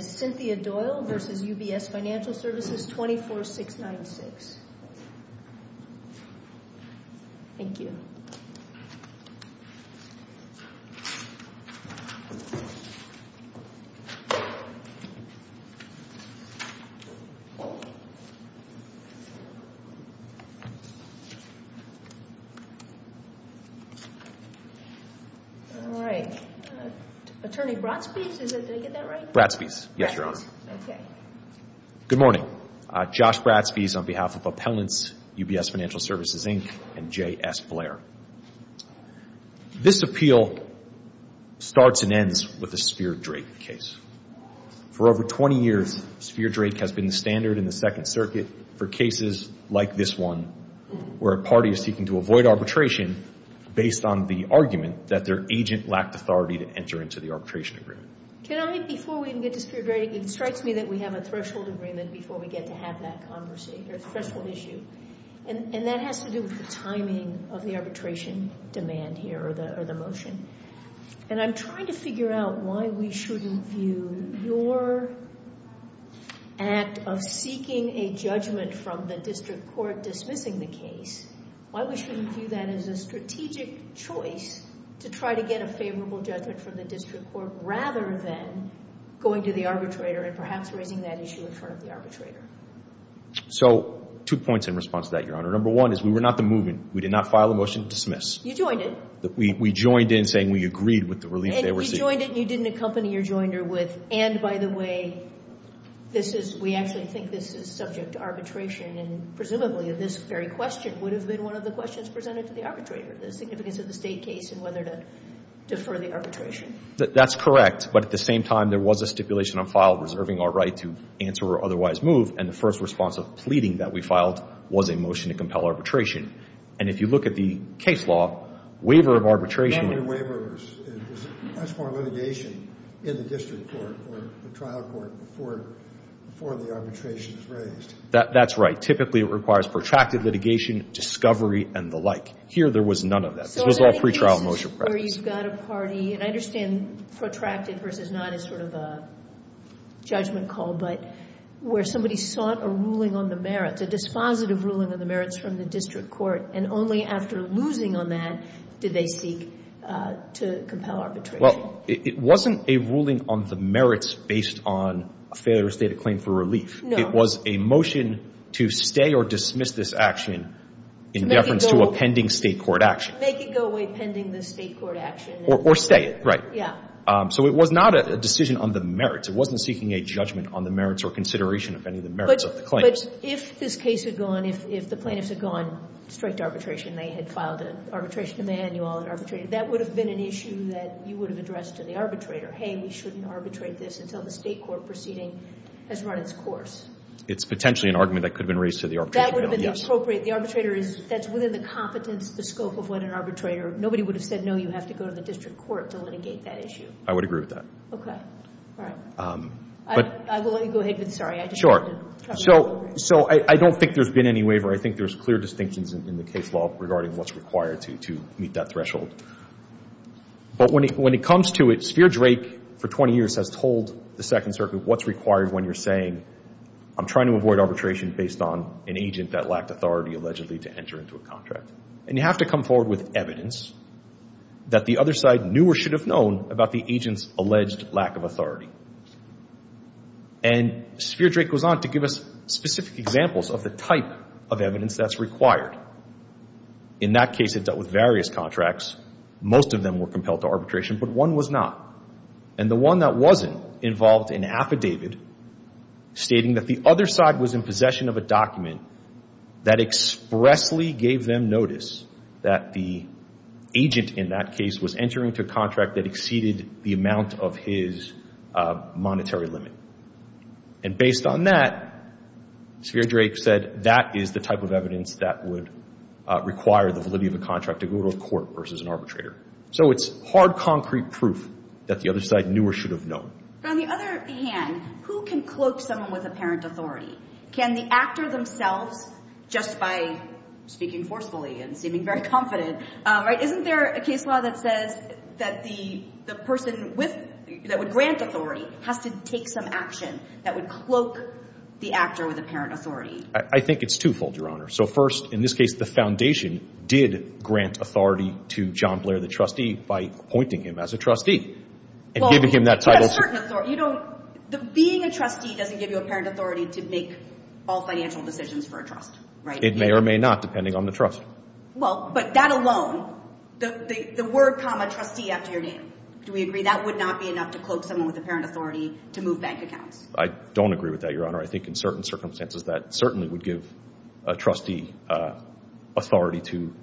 Cynthia Doyle v. UBS Financial Services, 24696 Thank you. Attorney Bradspees, did I get that right? Bradspees, yes your honor. Good morning. Josh Bradspees on behalf of Appellants, UBS Financial Services, Inc. and J.S. Blair. This appeal starts and ends with the Spear-Drake case. For over 20 years, Spear-Drake has been the standard in the Second Circuit for cases like this one, where a party is seeking to avoid arbitration based on the argument that their agent lacked authority to enter into the arbitration agreement. Can I, before we even get to Spear-Drake, it strikes me that we have a threshold agreement before we get to have that conversation, or threshold issue. And that has to do with the timing of the arbitration demand here, or the motion. And I'm trying to figure out why we shouldn't view your act of seeking a judgment from the district court dismissing the case, why we shouldn't view that as a strategic choice to try to get a favorable judgment from the district court, rather than going to the arbitrator and perhaps raising that issue in front of the arbitrator. So, two points in response to that, your honor. Number one is we were not the movement. We did not file a motion to dismiss. You joined it. We joined in saying we agreed with the relief they were seeking. And you joined it and you didn't accompany your joiner with, and by the way, this is, we actually think this is subject to arbitration, and presumably this very question would have been one of the questions presented to the arbitrator, the significance of the state case and whether to defer the arbitration. That's correct. But at the same time, there was a stipulation on file reserving our right to answer or otherwise move, and the first response of pleading that we filed was a motion to compel arbitration. And if you look at the case law, waiver of arbitration. That waiver is much more litigation in the district court or the trial court before the arbitration is raised. That's right. Typically it requires protracted litigation, discovery, and the like. Here there was none of that. This was all pretrial motion practice. So I think this is where you've got a party, and I understand protracted versus not is sort of a judgment call, but where somebody sought a ruling on the merits, a dispositive ruling on the merits from the district court, and only after losing on that did they seek to compel arbitration. Well, it wasn't a ruling on the merits based on a failure to state a claim for relief. No. It was a motion to stay or dismiss this action in deference to a pending state court action. Make it go away pending the state court action. Or stay it, right. Yeah. So it was not a decision on the merits. It wasn't seeking a judgment on the merits or consideration of any of the merits of the claims. But if this case had gone, if the plaintiffs had gone straight to arbitration, they had filed an arbitration manual and arbitrated, that would have been an issue that you would have addressed to the arbitrator. Hey, we shouldn't arbitrate this until the state court proceeding has run its course. It's potentially an argument that could have been raised to the arbitration panel. That would have been appropriate. The arbitrator is, that's within the competence, the scope of what an arbitrator, nobody would have said, no, you have to go to the district court to litigate that issue. I would agree with that. Okay. All right. I will let you go ahead, but sorry, I just wanted to. Sure. So I don't think there's been any waiver. I think there's clear distinctions in the case law regarding what's required to meet that threshold. But when it comes to it, Spheer-Drake, for 20 years, has told the Second Circuit what's required when you're saying, I'm trying to avoid arbitration based on an agent that lacked authority, allegedly, to enter into a contract. And you have to come forward with evidence that the other side knew or should have known about the agent's alleged lack of authority. And Spheer-Drake goes on to give us specific examples of the type of evidence that's required. In that case, it dealt with various contracts. Most of them were compelled to arbitration, but one was not. And the one that wasn't involved in affidavit stating that the other side was in possession of a document that expressly gave them notice that the agent in that case was entering into a contract that exceeded the amount of his monetary limit. And based on that, Spheer-Drake said that is the type of evidence that would require the validity of a contract to go to a court versus an arbitrator. So it's hard, concrete proof that the other side knew or should have known. But on the other hand, who can cloak someone with apparent authority? Can the actor themselves, just by speaking forcefully and seeming very confident, right? Is there a case law that says that the person with, that would grant authority, has to take some action that would cloak the actor with apparent authority? I think it's twofold, Your Honor. So first, in this case, the foundation did grant authority to John Blair, the trustee, by appointing him as a trustee and giving him that title. Well, a certain authority. You don't, being a trustee doesn't give you apparent authority to make all financial decisions for a trust, right? It may or may not, depending on the trust. Well, but that alone, the word comma trustee after your name, do we agree that would not be enough to cloak someone with apparent authority to move bank accounts? I don't agree with that, Your Honor. I think in certain circumstances that certainly would give a trustee authority to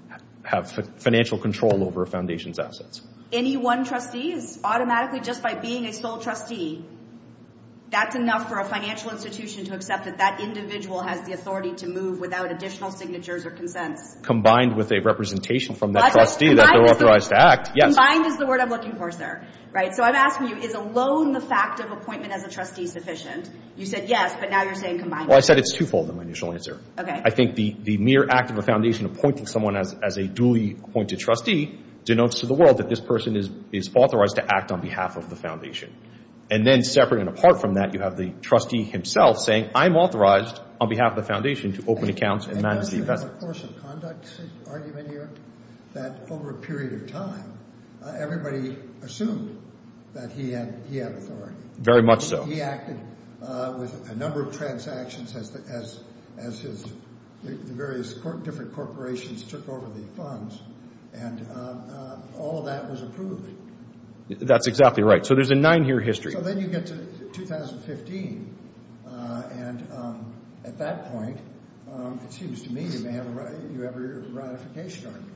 have financial control over a foundation's assets. Any one trustee is automatically, just by being a sole trustee, that's enough for a financial institution to accept that that individual has the authority to move without additional signatures or consents. Combined with a representation from that trustee that they're authorized to act. Combined is the word I'm looking for, sir. So I'm asking you, is alone the fact of appointment as a trustee sufficient? You said yes, but now you're saying combined. Well, I said it's twofold in my initial answer. Okay. I think the mere act of a foundation appointing someone as a duly appointed trustee denotes to the world that this person is authorized to act on behalf of the foundation. And then separate and apart from that, you have the trustee himself saying, I'm authorized on behalf of the foundation to open accounts and manage the investment. And does it have a course of conduct argument here that over a period of time, everybody assumed that he had authority? Very much so. He acted with a number of transactions as his various different corporations took over the funds, and all of that was approved. That's exactly right. So there's a nine-year history. So then you get to 2015, and at that point, it seems to me you have a ratification argument.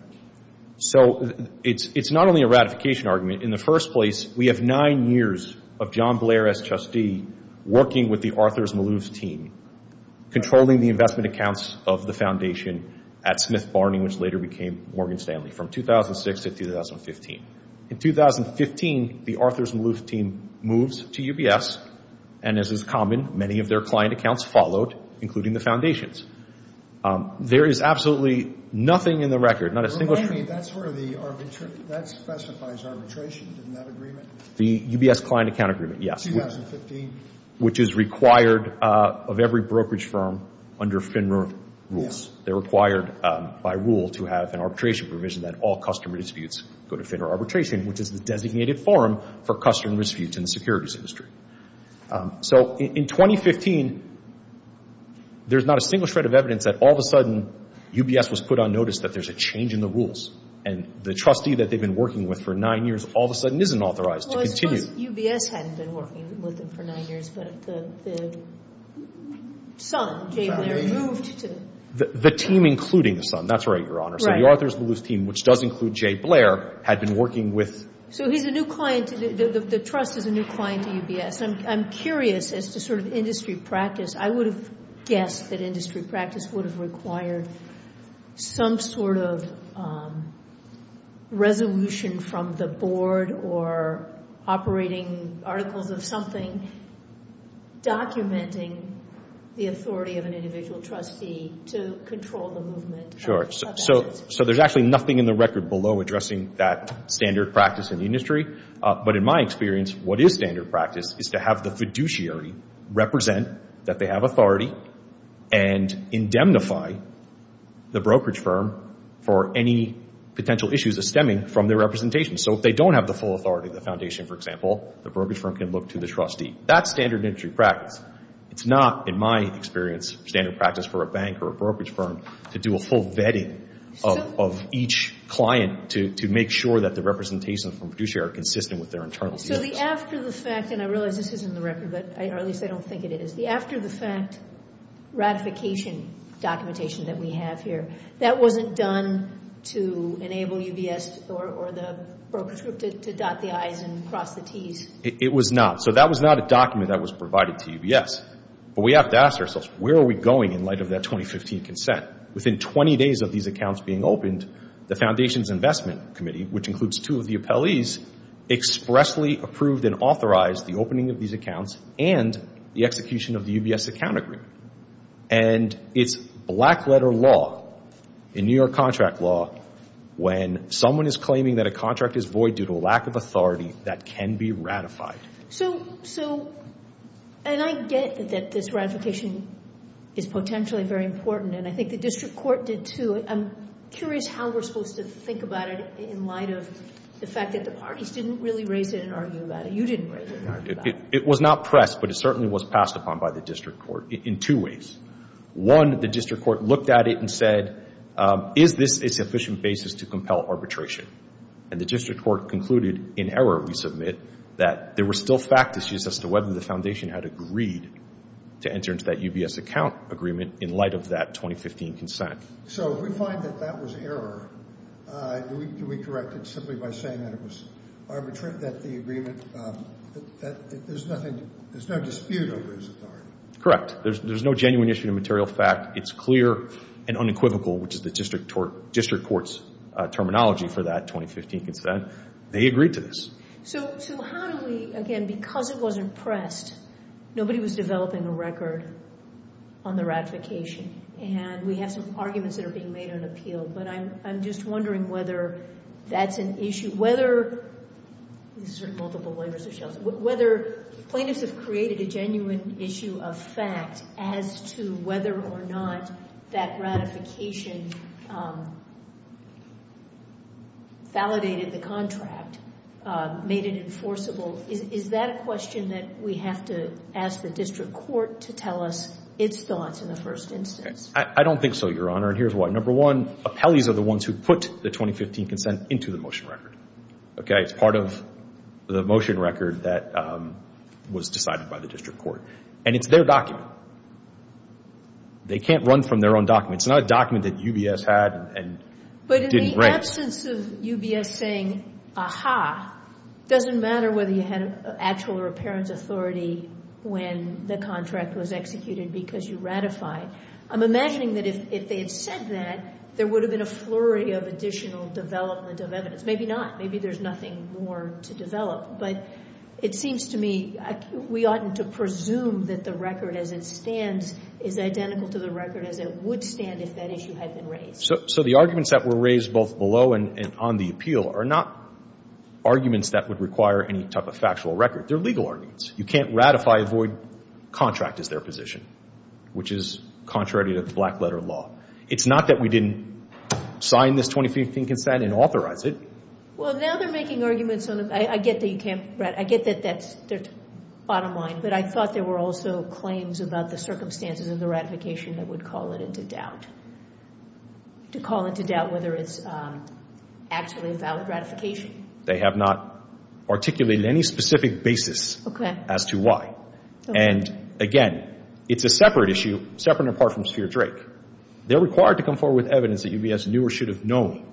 So it's not only a ratification argument. In the first place, we have nine years of John Blair as trustee working with the Arthurs Maloof team, controlling the investment accounts of the foundation at Smith Barney, which later became Morgan Stanley, from 2006 to 2015. In 2015, the Arthurs Maloof team moves to UBS, and as is common, many of their client accounts followed, including the foundation's. There is absolutely nothing in the record, not a single statement. Remind me, that specifies arbitration in that agreement? The UBS client account agreement, yes. 2015. Which is required of every brokerage firm under FINRA rules. They're required by rule to have an arbitration provision that all customer disputes go to FINRA arbitration, which is the designated forum for customer disputes in the securities industry. So in 2015, there's not a single shred of evidence that all of a sudden UBS was put on notice that there's a change in the rules, and the trustee that they've been working with for nine years all of a sudden isn't authorized to continue. UBS hadn't been working with them for nine years, but the son, Jay Blair, moved to the... The team including the son, that's right, Your Honor. Right. So the Arthurs Maloof team, which does include Jay Blair, had been working with... So he's a new client, the trust is a new client to UBS. I'm curious as to sort of industry practice. I would have guessed that industry practice would have required some sort of resolution from the board or operating articles of something documenting the authority of an individual trustee to control the movement. Sure. So there's actually nothing in the record below addressing that standard practice in the industry. But in my experience, what is standard practice is to have the fiduciary represent that they have authority and indemnify the brokerage firm for any potential issues of stemming from their representation. So if they don't have the full authority of the foundation, for example, the brokerage firm can look to the trustee. That's standard industry practice. It's not, in my experience, standard practice for a bank or a brokerage firm to do a full vetting of each client to make sure that the representations from fiduciary are consistent with their internal... So the after the fact, and I realize this isn't in the record, or at least I don't think it is, the after the fact ratification documentation that we have here, that wasn't done to enable UBS or the brokerage group to dot the I's and cross the T's? It was not. So that was not a document that was provided to UBS. But we have to ask ourselves, where are we going in light of that 2015 consent? Within 20 days of these accounts being opened, the foundations investment committee, which includes two of the appellees, expressly approved and authorized the opening of these accounts and the execution of the UBS account agreement. And it's black letter law in New York contract law when someone is claiming that a contract is void due to a lack of authority that can be ratified. So, and I get that this ratification is potentially very important, and I think the district court did too. I'm curious how we're supposed to think about it in light of the fact that the parties didn't really raise it and argue about it. You didn't raise it and argue about it. It was not pressed, but it certainly was passed upon by the district court in two ways. One, the district court looked at it and said, is this a sufficient basis to compel arbitration? And the district court concluded in error, we submit, that there were still fact issues as to whether the foundation had agreed to enter into that UBS account agreement in light of that 2015 consent. So if we find that that was error, do we correct it simply by saying that it was arbitrary, that the agreement, that there's nothing, there's no dispute over its authority? Correct. There's no genuine issue of material fact. It's clear and unequivocal, which is the district court's terminology for that 2015 consent. They agreed to this. So how do we, again, because it wasn't pressed, nobody was developing a record on the ratification, and we have some arguments that are being made on appeal, but I'm just wondering whether that's an issue, whether plaintiffs have created a genuine issue of fact as to whether or not that ratification validated the contract, made it enforceable. Is that a question that we have to ask the district court to tell us its thoughts in the first instance? I don't think so, Your Honor, and here's why. Number one, appellees are the ones who put the 2015 consent into the motion record. It's part of the motion record that was decided by the district court, and it's their document. They can't run from their own document. It's not a document that UBS had and didn't rank. But in the absence of UBS saying, ah-ha, it doesn't matter whether you had actual or apparent authority when the contract was executed because you ratified, I'm imagining that if they had said that, there would have been a flurry of additional development of evidence. Maybe not. Maybe there's nothing more to develop. But it seems to me we oughtn't to presume that the record as it stands is identical to the record as it would stand if that issue had been raised. So the arguments that were raised both below and on the appeal are not arguments that would require any type of factual record. They're legal arguments. You can't ratify a void contract as their position, which is contrary to the black letter law. It's not that we didn't sign this 2015 consent and authorize it. Well, now they're making arguments on it. I get that you can't ratify. I get that that's their bottom line, but I thought there were also claims about the circumstances of the ratification that would call it into doubt, to call into doubt whether it's actually a valid ratification. They have not articulated any specific basis. Okay. As to why. And, again, it's a separate issue, separate and apart from Spheer-Drake. They're required to come forward with evidence that UBS knew or should have known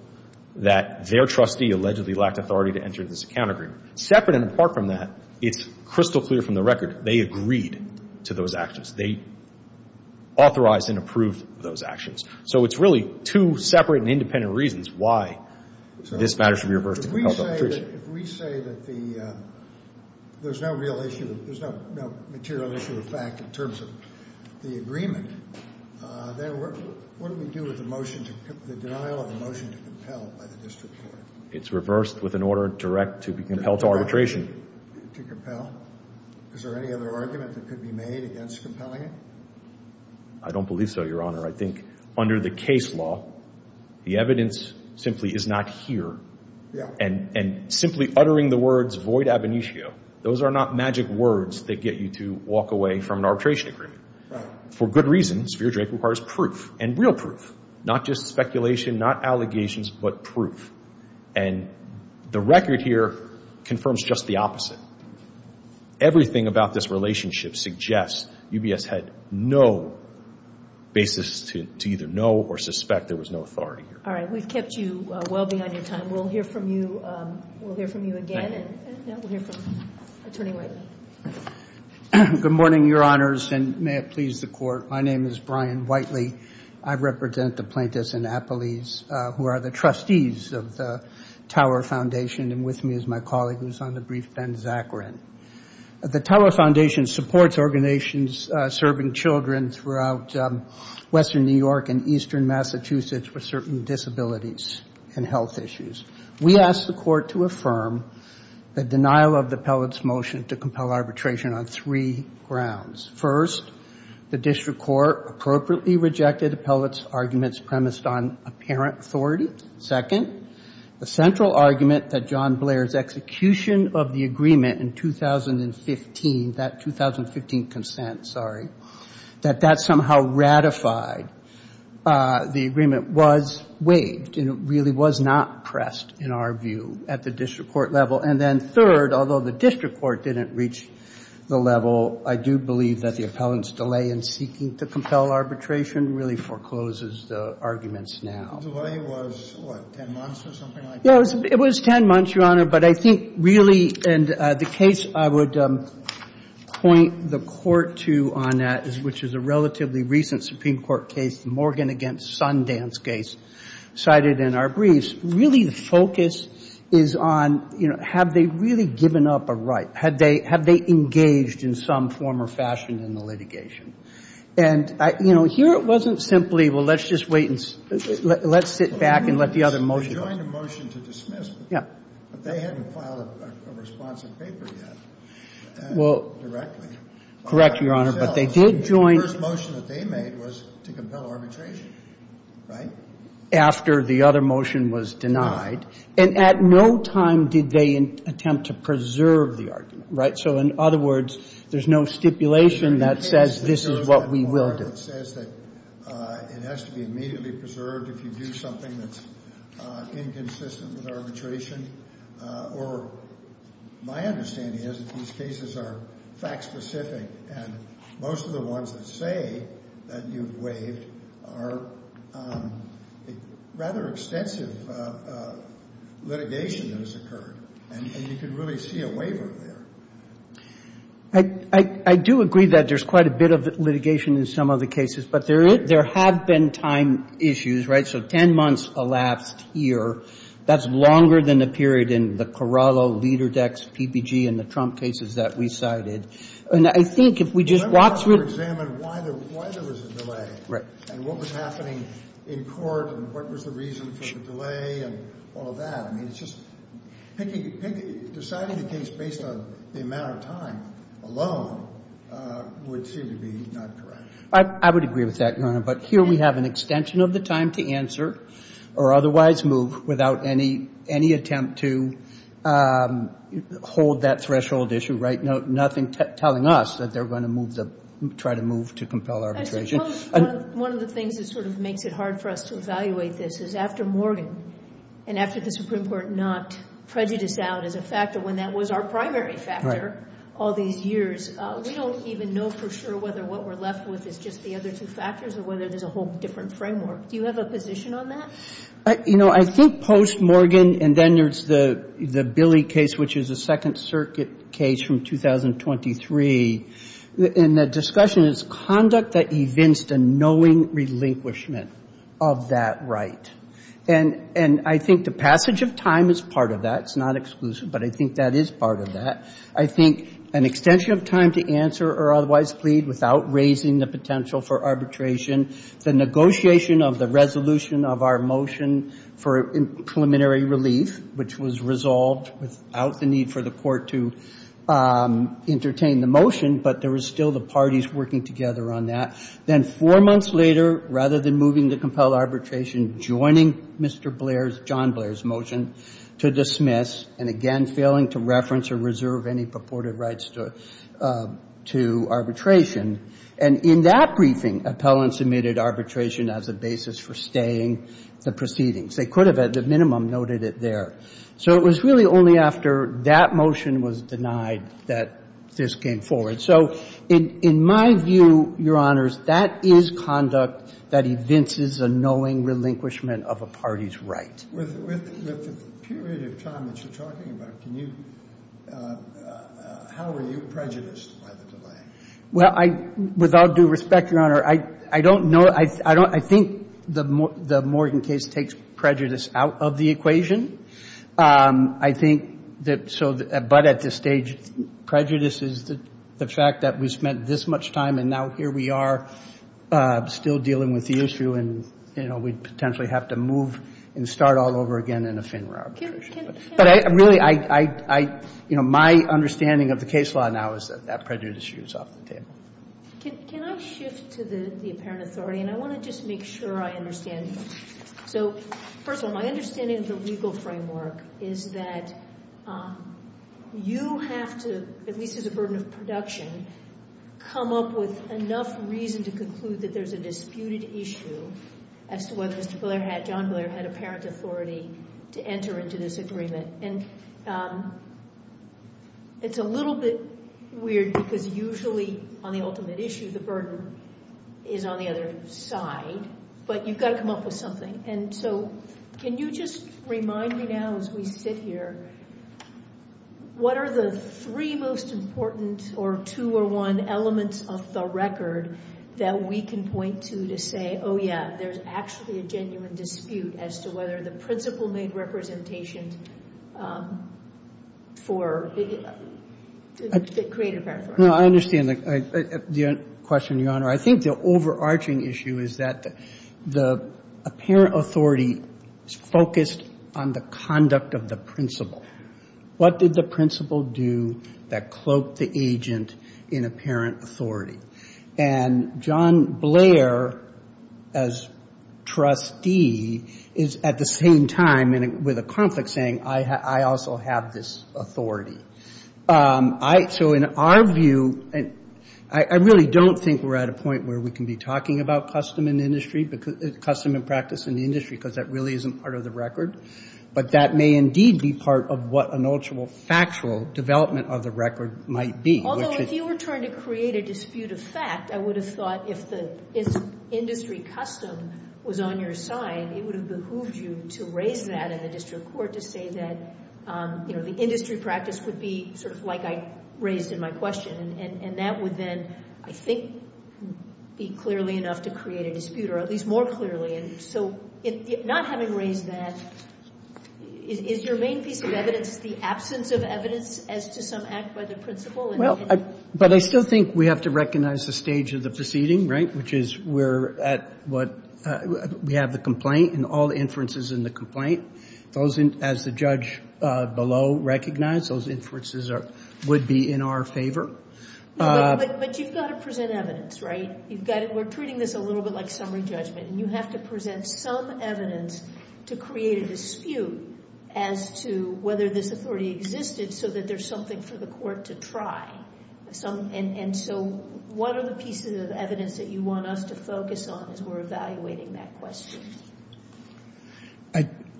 that their trustee allegedly lacked authority to enter this account agreement. Separate and apart from that, it's crystal clear from the record they agreed to those actions. They authorized and approved those actions. So it's really two separate and independent reasons why this matter should be reversed and compelled to arbitration. If we say that there's no real issue, there's no material issue of fact in terms of the agreement, then what do we do with the motion, the denial of the motion to compel by the district court? It's reversed with an order direct to be compelled to arbitration. To compel? Is there any other argument that could be made against compelling it? I don't believe so, Your Honor. I think under the case law, the evidence simply is not here. Yeah. And simply uttering the words, void ab initio, those are not magic words that get you to walk away from an arbitration agreement. For good reasons, Spheer-Drake requires proof and real proof, not just speculation, not allegations, but proof. And the record here confirms just the opposite. Everything about this relationship suggests UBS had no basis to either know or suspect there was no authority here. All right. We've kept you well beyond your time. We'll hear from you again. No, we'll hear from Attorney Whiteley. Good morning, Your Honors, and may it please the Court. My name is Brian Whiteley. I represent the plaintiffs in Appalese who are the trustees of the Tower Foundation, and with me is my colleague who's on the brief, Ben Zachrin. The Tower Foundation supports organizations serving children throughout western New York and eastern Massachusetts with certain disabilities and health issues. We ask the Court to affirm the denial of the appellate's motion to compel arbitration on three grounds. First, the district court appropriately rejected the appellate's arguments premised on apparent authority. Second, the central argument that John Blair's execution of the agreement in 2015, that 2015 consent, sorry, that that somehow ratified the agreement was waived and it really was not pressed in our view at the district court level. And then third, although the district court didn't reach the level, I do believe that the appellant's delay in seeking to compel arbitration really forecloses the arguments now. The delay was, what, 10 months or something like that? It was 10 months, Your Honor, but I think really, and the case I would point the Court to on that, which is a relatively recent Supreme Court case, the Morgan v. Sundance case cited in our briefs, really the focus is on, you know, have they really given up a right? Have they engaged in some form or fashion in the litigation? And, you know, here it wasn't simply, well, let's just wait and let's sit back and let the other motion go. Yeah. But they hadn't filed a response in paper yet directly. Well, correct, Your Honor, but they did join. The first motion that they made was to compel arbitration, right? After the other motion was denied. Denied. And at no time did they attempt to preserve the argument, right? So in other words, there's no stipulation that says this is what we will do. It has to be immediately preserved if you do something that's inconsistent with arbitration. Or my understanding is that these cases are fact-specific, and most of the ones that say that you've waived are rather extensive litigation that has occurred. And you can really see a waiver there. I do agree that there's quite a bit of litigation in some of the cases, but there have been time issues, right? So 10 months elapsed here. That's longer than the period in the Corallo, Lederdex, PPG, and the Trump cases that we cited. And I think if we just walk through it. Let's examine why there was a delay. Right. And what was happening in court and what was the reason for the delay and all of that. Deciding the case based on the amount of time alone would seem to be not correct. I would agree with that, Your Honor. But here we have an extension of the time to answer or otherwise move without any attempt to hold that threshold issue, right? Nothing telling us that they're going to try to move to compel arbitration. One of the things that sort of makes it hard for us to evaluate this is after Morgan and after the Supreme Court knocked prejudice out as a factor when that was our primary factor all these years, we don't even know for sure whether what we're left with is just the other two factors or whether there's a whole different framework. Do you have a position on that? You know, I think post Morgan and then there's the Billy case, which is a Second Circuit case from 2023, and the discussion is conduct that evinced a knowing relinquishment of that right. And I think the passage of time is part of that. It's not exclusive, but I think that is part of that. I think an extension of time to answer or otherwise plead without raising the potential for arbitration, the negotiation of the resolution of our motion for preliminary relief, which was resolved without the need for the court to entertain the motion, but there were still the parties working together on that. Then four months later, rather than moving the compelled arbitration, joining Mr. Blair's, John Blair's motion to dismiss and again failing to reference or reserve any purported rights to arbitration. And in that briefing, appellants omitted arbitration as a basis for staying the proceedings. They could have at the minimum noted it there. So it was really only after that motion was denied that this came forward. So in my view, Your Honors, that is conduct that evinces a knowing relinquishment of a party's right. With the period of time that you're talking about, can you – how are you prejudiced by the delay? Well, I – with all due respect, Your Honor, I don't know – I think the Morgan case takes prejudice out of the equation. I think that so – but at this stage, prejudice is the fact that we spent this much time and now here we are still dealing with the issue and, you know, we potentially have to move and start all over again in a FINRA arbitration. But I – really, I – you know, my understanding of the case law now is that that prejudice is off the table. Can I shift to the apparent authority? And I want to just make sure I understand. So first of all, my understanding of the legal framework is that you have to, at least as a burden of production, come up with enough reason to conclude that there's a disputed issue as to whether Mr. Blair had – John Blair had apparent authority to enter into this agreement. And it's a little bit weird because usually on the ultimate issue, the burden is on the other side. But you've got to come up with something. And so can you just remind me now as we sit here, what are the three most important or two or one elements of the record that we can point to to say, oh, yeah, there's actually a genuine dispute as to whether the principal made representation for – created apparent authority. No, I understand the question, Your Honor. I think the overarching issue is that the apparent authority is focused on the conduct of the principal. What did the principal do that cloaked the agent in apparent authority? And John Blair, as trustee, is at the same time with a conflict saying, I also have this authority. So in our view, I really don't think we're at a point where we can be talking about custom in the industry, custom and practice in the industry, because that really isn't part of the record. But that may indeed be part of what an actual factual development of the record might be. Although if you were trying to create a dispute of fact, I would have thought if the industry custom was on your side, it would have behooved you to raise that in the district court to say that the industry practice would be sort of like I raised in my question. And that would then, I think, be clearly enough to create a dispute, or at least more clearly. So not having raised that, is your main piece of evidence the absence of evidence as to some act by the principal? Well, but I still think we have to recognize the stage of the proceeding, right, which is we have the complaint and all the inferences in the complaint. As the judge below recognized, those inferences would be in our favor. But you've got to present evidence, right? We're treating this a little bit like summary judgment, and you have to present some evidence to create a dispute as to whether this authority existed so that there's something for the court to try. And so what are the pieces of evidence that you want us to focus on as we're evaluating that question?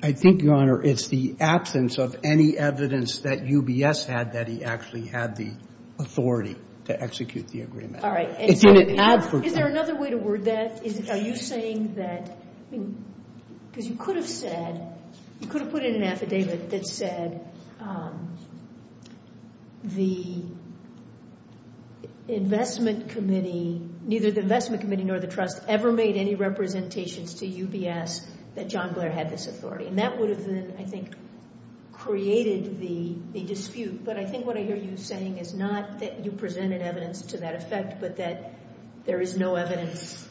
I think, Your Honor, it's the absence of any evidence that UBS had that he actually had the authority to execute the agreement. All right. Is there another way to word that? Are you saying that, because you could have said, you could have put in an affidavit that said the investment committee, neither the investment committee nor the trust ever made any representations to UBS that John Blair had this authority. And that would have been, I think, created the dispute. But I think what I hear you saying is not that you presented evidence to that effect but that there is no evidence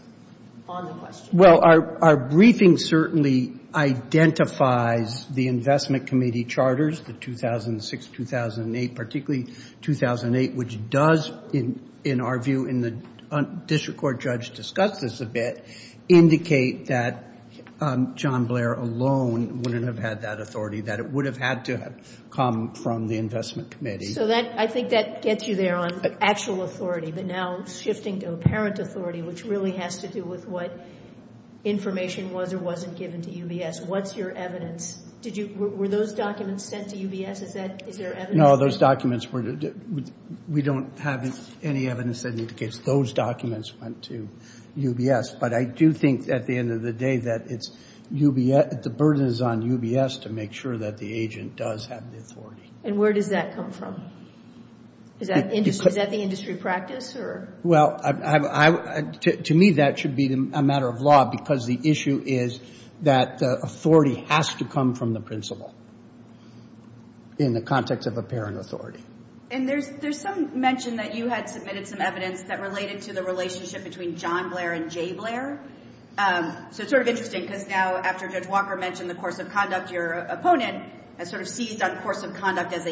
on the question. Well, our briefing certainly identifies the investment committee charters, the 2006-2008, particularly 2008, which does, in our view, and the district court judge discussed this a bit, indicate that John Blair alone wouldn't have had that authority, that it would have had to have come from the investment committee. So I think that gets you there on actual authority, but now shifting to apparent authority, which really has to do with what information was or wasn't given to UBS. What's your evidence? Were those documents sent to UBS? Is there evidence? No, those documents weren't. We don't have any evidence that indicates those documents went to UBS. But I do think, at the end of the day, that the burden is on UBS to make sure that the agent does have the authority. And where does that come from? Is that the industry practice? Well, to me, that should be a matter of law, because the issue is that authority has to come from the principal, in the context of apparent authority. And there's some mention that you had submitted some evidence that related to the relationship between John Blair and Jay Blair. So it's sort of interesting, because now after Judge Walker mentioned the course of conduct, your opponent has sort of seized on the course of conduct as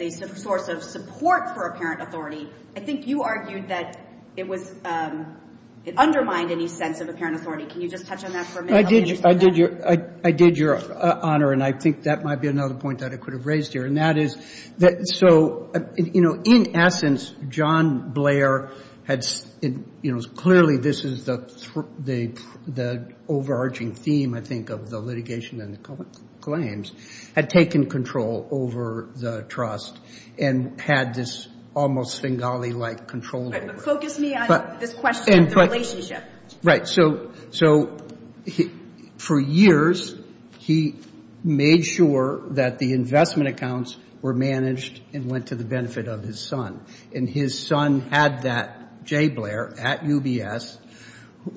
a source of support for apparent authority. I think you argued that it undermined any sense of apparent authority. Can you just touch on that for a minute? I did, Your Honor, and I think that might be another point that I could have raised here. So, in essence, John Blair had, clearly this is the overarching theme, I think, of the litigation and the claims, had taken control over the trust and had this almost Bengali-like control over it. But focus me on this question of the relationship. Right. So, for years, he made sure that the investment accounts were managed and went to the benefit of his son. And his son had that Jay Blair at UBS,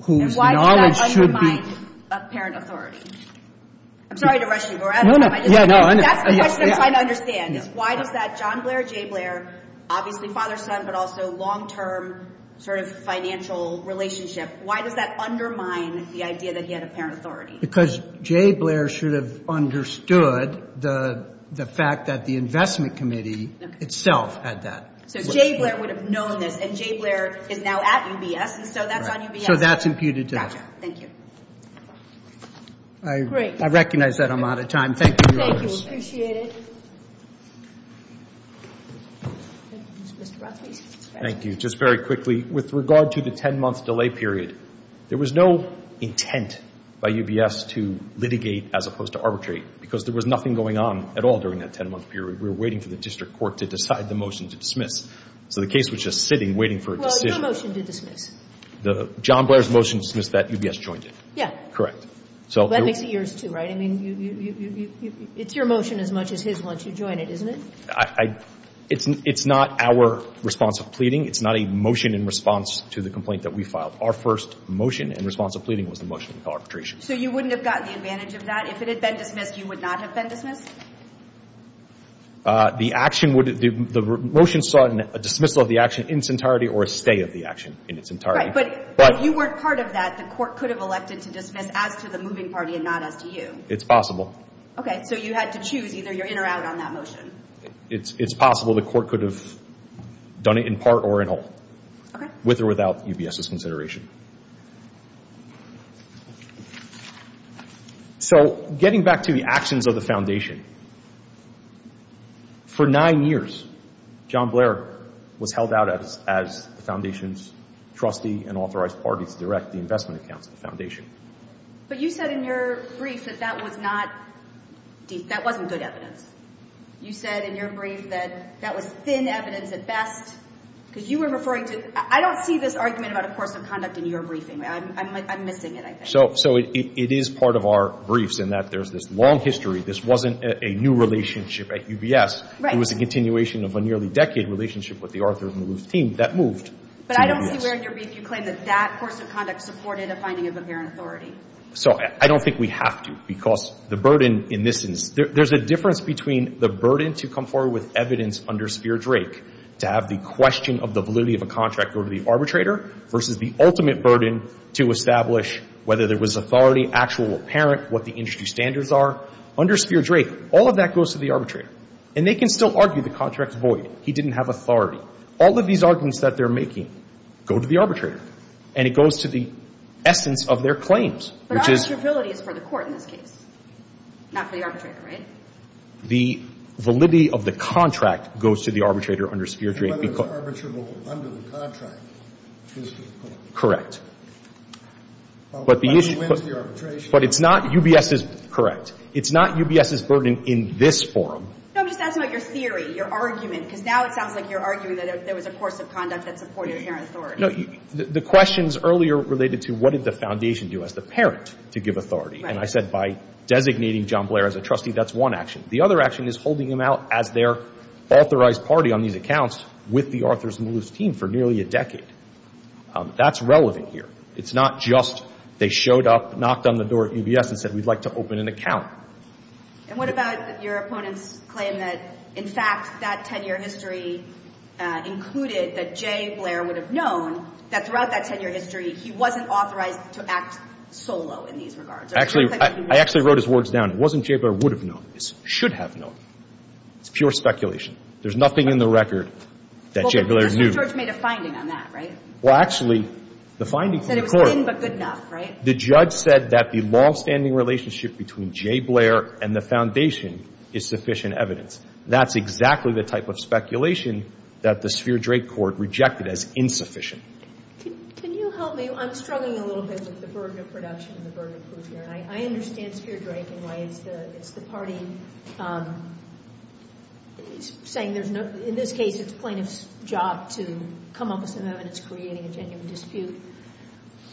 whose knowledge should be... And why does that undermine apparent authority? I'm sorry to rush you, Your Honor. That's the question I'm trying to understand is why does that John Blair, Jay Blair, obviously father-son, but also long-term sort of financial relationship, why does that undermine the idea that he had apparent authority? Because Jay Blair should have understood the fact that the investment committee itself had that. So Jay Blair would have known this, and Jay Blair is now at UBS, and so that's on UBS. So that's imputed to us. Thank you. I recognize that I'm out of time. Thank you, Your Honors. Thank you. I appreciate it. Mr. Rothfuss. Thank you. Just very quickly, with regard to the 10-month delay period, there was no intent by UBS to litigate as opposed to arbitrate because there was nothing going on at all during that 10-month period. We were waiting for the district court to decide the motion to dismiss. So the case was just sitting, waiting for a decision. Well, your motion to dismiss. John Blair's motion to dismiss that UBS joined it. Yeah. Correct. That makes it yours, too, right? I mean, it's your motion as much as his once you join it, isn't it? It's not our response of pleading. It's not a motion in response to the complaint that we filed. Our first motion in response to pleading was the motion to call arbitration. So you wouldn't have gotten the advantage of that? If it had been dismissed, you would not have been dismissed? The motion saw a dismissal of the action in its entirety or a stay of the action in its entirety. Right, but you weren't part of that. The court could have elected to dismiss as to the moving party and not as to you. It's possible. Okay, so you had to choose either you're in or out on that motion. It's possible the court could have done it in part or in whole, with or without UBS's consideration. So getting back to the actions of the foundation, for nine years John Blair was held out as the foundation's trustee and authorized party to direct the investment accounts of the foundation. But you said in your brief that that was not, that wasn't good evidence. You said in your brief that that was thin evidence at best, because you were referring to, I don't see this argument about a course of conduct in your briefing. I'm missing it, I think. So it is part of our briefs in that there's this long history. This wasn't a new relationship at UBS. Right. It was a continuation of a nearly decade relationship with the Arthur Maloof team that moved to UBS. But I don't see where in your brief you claim that that course of conduct supported a finding of apparent authority. So I don't think we have to, because the burden in this instance, there's a difference between the burden to come forward with evidence under Spear-Drake to have the question of the validity of a contract go to the arbitrator versus the ultimate burden to establish whether there was authority, actual or apparent, what the industry standards are. Under Spear-Drake, all of that goes to the arbitrator. And they can still argue the contract's void. He didn't have authority. All of these arguments that they're making go to the arbitrator. And it goes to the essence of their claims, which is — But arbitrability is for the court in this case, not for the arbitrator, right? The validity of the contract goes to the arbitrator under Spear-Drake because — Whether it's arbitrable under the contract is the point. Correct. But the issue — But who wins the arbitration? But it's not UBS's — correct. It's not UBS's burden in this forum. No, I'm just asking about your theory, your argument, because now it sounds like you're arguing that there was a course of conduct that supported apparent authority. No. The questions earlier related to what did the foundation do as the parent to give authority. Right. And I said by designating John Blair as a trustee, that's one action. The other action is holding him out as their authorized party on these accounts with the Arthur's Moose team for nearly a decade. That's relevant here. It's not just they showed up, knocked on the door at UBS and said, we'd like to open an account. And what about your opponent's claim that, in fact, that 10-year history included that J. Blair would have known that throughout that 10-year history he wasn't authorized to act solo in these regards? Actually, I actually wrote his words down. It wasn't J. Blair would have known. It should have known. It's pure speculation. There's nothing in the record that J. Blair knew. Well, but Mr. George made a finding on that, right? Well, actually, the finding from the court — He said it was thin but good enough, right? The judge said that the longstanding relationship between J. Blair and the foundation is sufficient evidence. That's exactly the type of speculation that the Spheer-Drake court rejected as insufficient. Can you help me? I'm struggling a little bit with the burden of production and the burden of proof here. And I understand Spheer-Drake and why it's the party saying there's no — in this case, it's plaintiff's job to come up with some evidence creating a genuine dispute.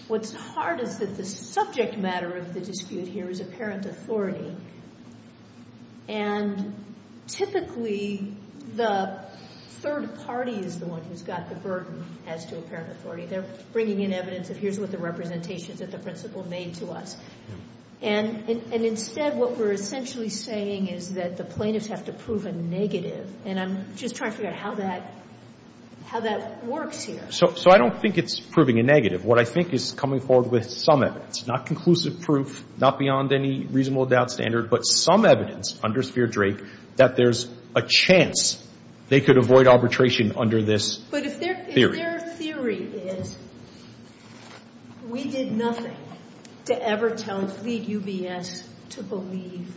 What's hard is that the subject matter of the dispute here is apparent authority. And typically, the third party is the one who's got the burden as to apparent authority. They're bringing in evidence of here's what the representations of the principle made to us. And instead, what we're essentially saying is that the plaintiffs have to prove a negative. And I'm just trying to figure out how that works here. So I don't think it's proving a negative. What I think is coming forward with some evidence, not conclusive proof, not beyond any reasonable doubt standard, but some evidence under Spheer-Drake that there's a chance they could avoid arbitration under this theory. But if their theory is we did nothing to ever tell — to lead UBS to believe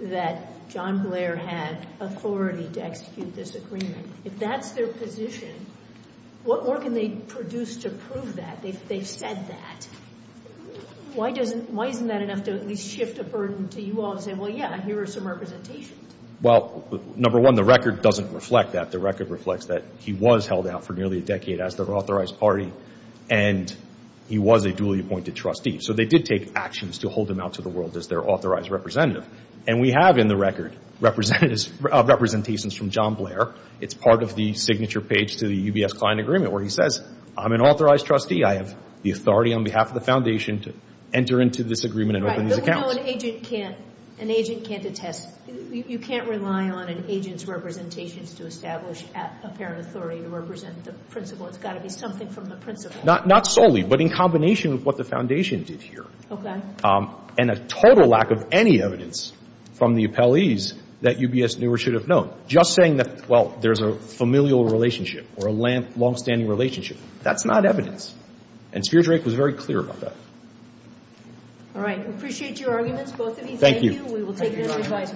that John Blair had authority to execute this agreement, if that's their position, what more can they produce to prove that? They've said that. Why isn't that enough to at least shift a burden to you all to say, well, yeah, here are some representations? Well, number one, the record doesn't reflect that. The record reflects that he was held out for nearly a decade as their authorized party, and he was a duly appointed trustee. So they did take actions to hold him out to the world as their authorized representative. And we have in the record representations from John Blair. It's part of the signature page to the UBS client agreement where he says, I'm an authorized trustee. I have the authority on behalf of the Foundation to enter into this agreement and open these accounts. But we know an agent can't — an agent can't attest. You can't rely on an agent's representations to establish apparent authority to represent the principal. It's got to be something from the principal. Not solely, but in combination with what the Foundation did here. Okay. And a total lack of any evidence from the appellees that UBS knew or should have known. Just saying that, well, there's a familial relationship or a longstanding relationship, that's not evidence. And Speer-Drake was very clear about that. All right. We appreciate your arguments, both of you. Thank you. We will take your advice.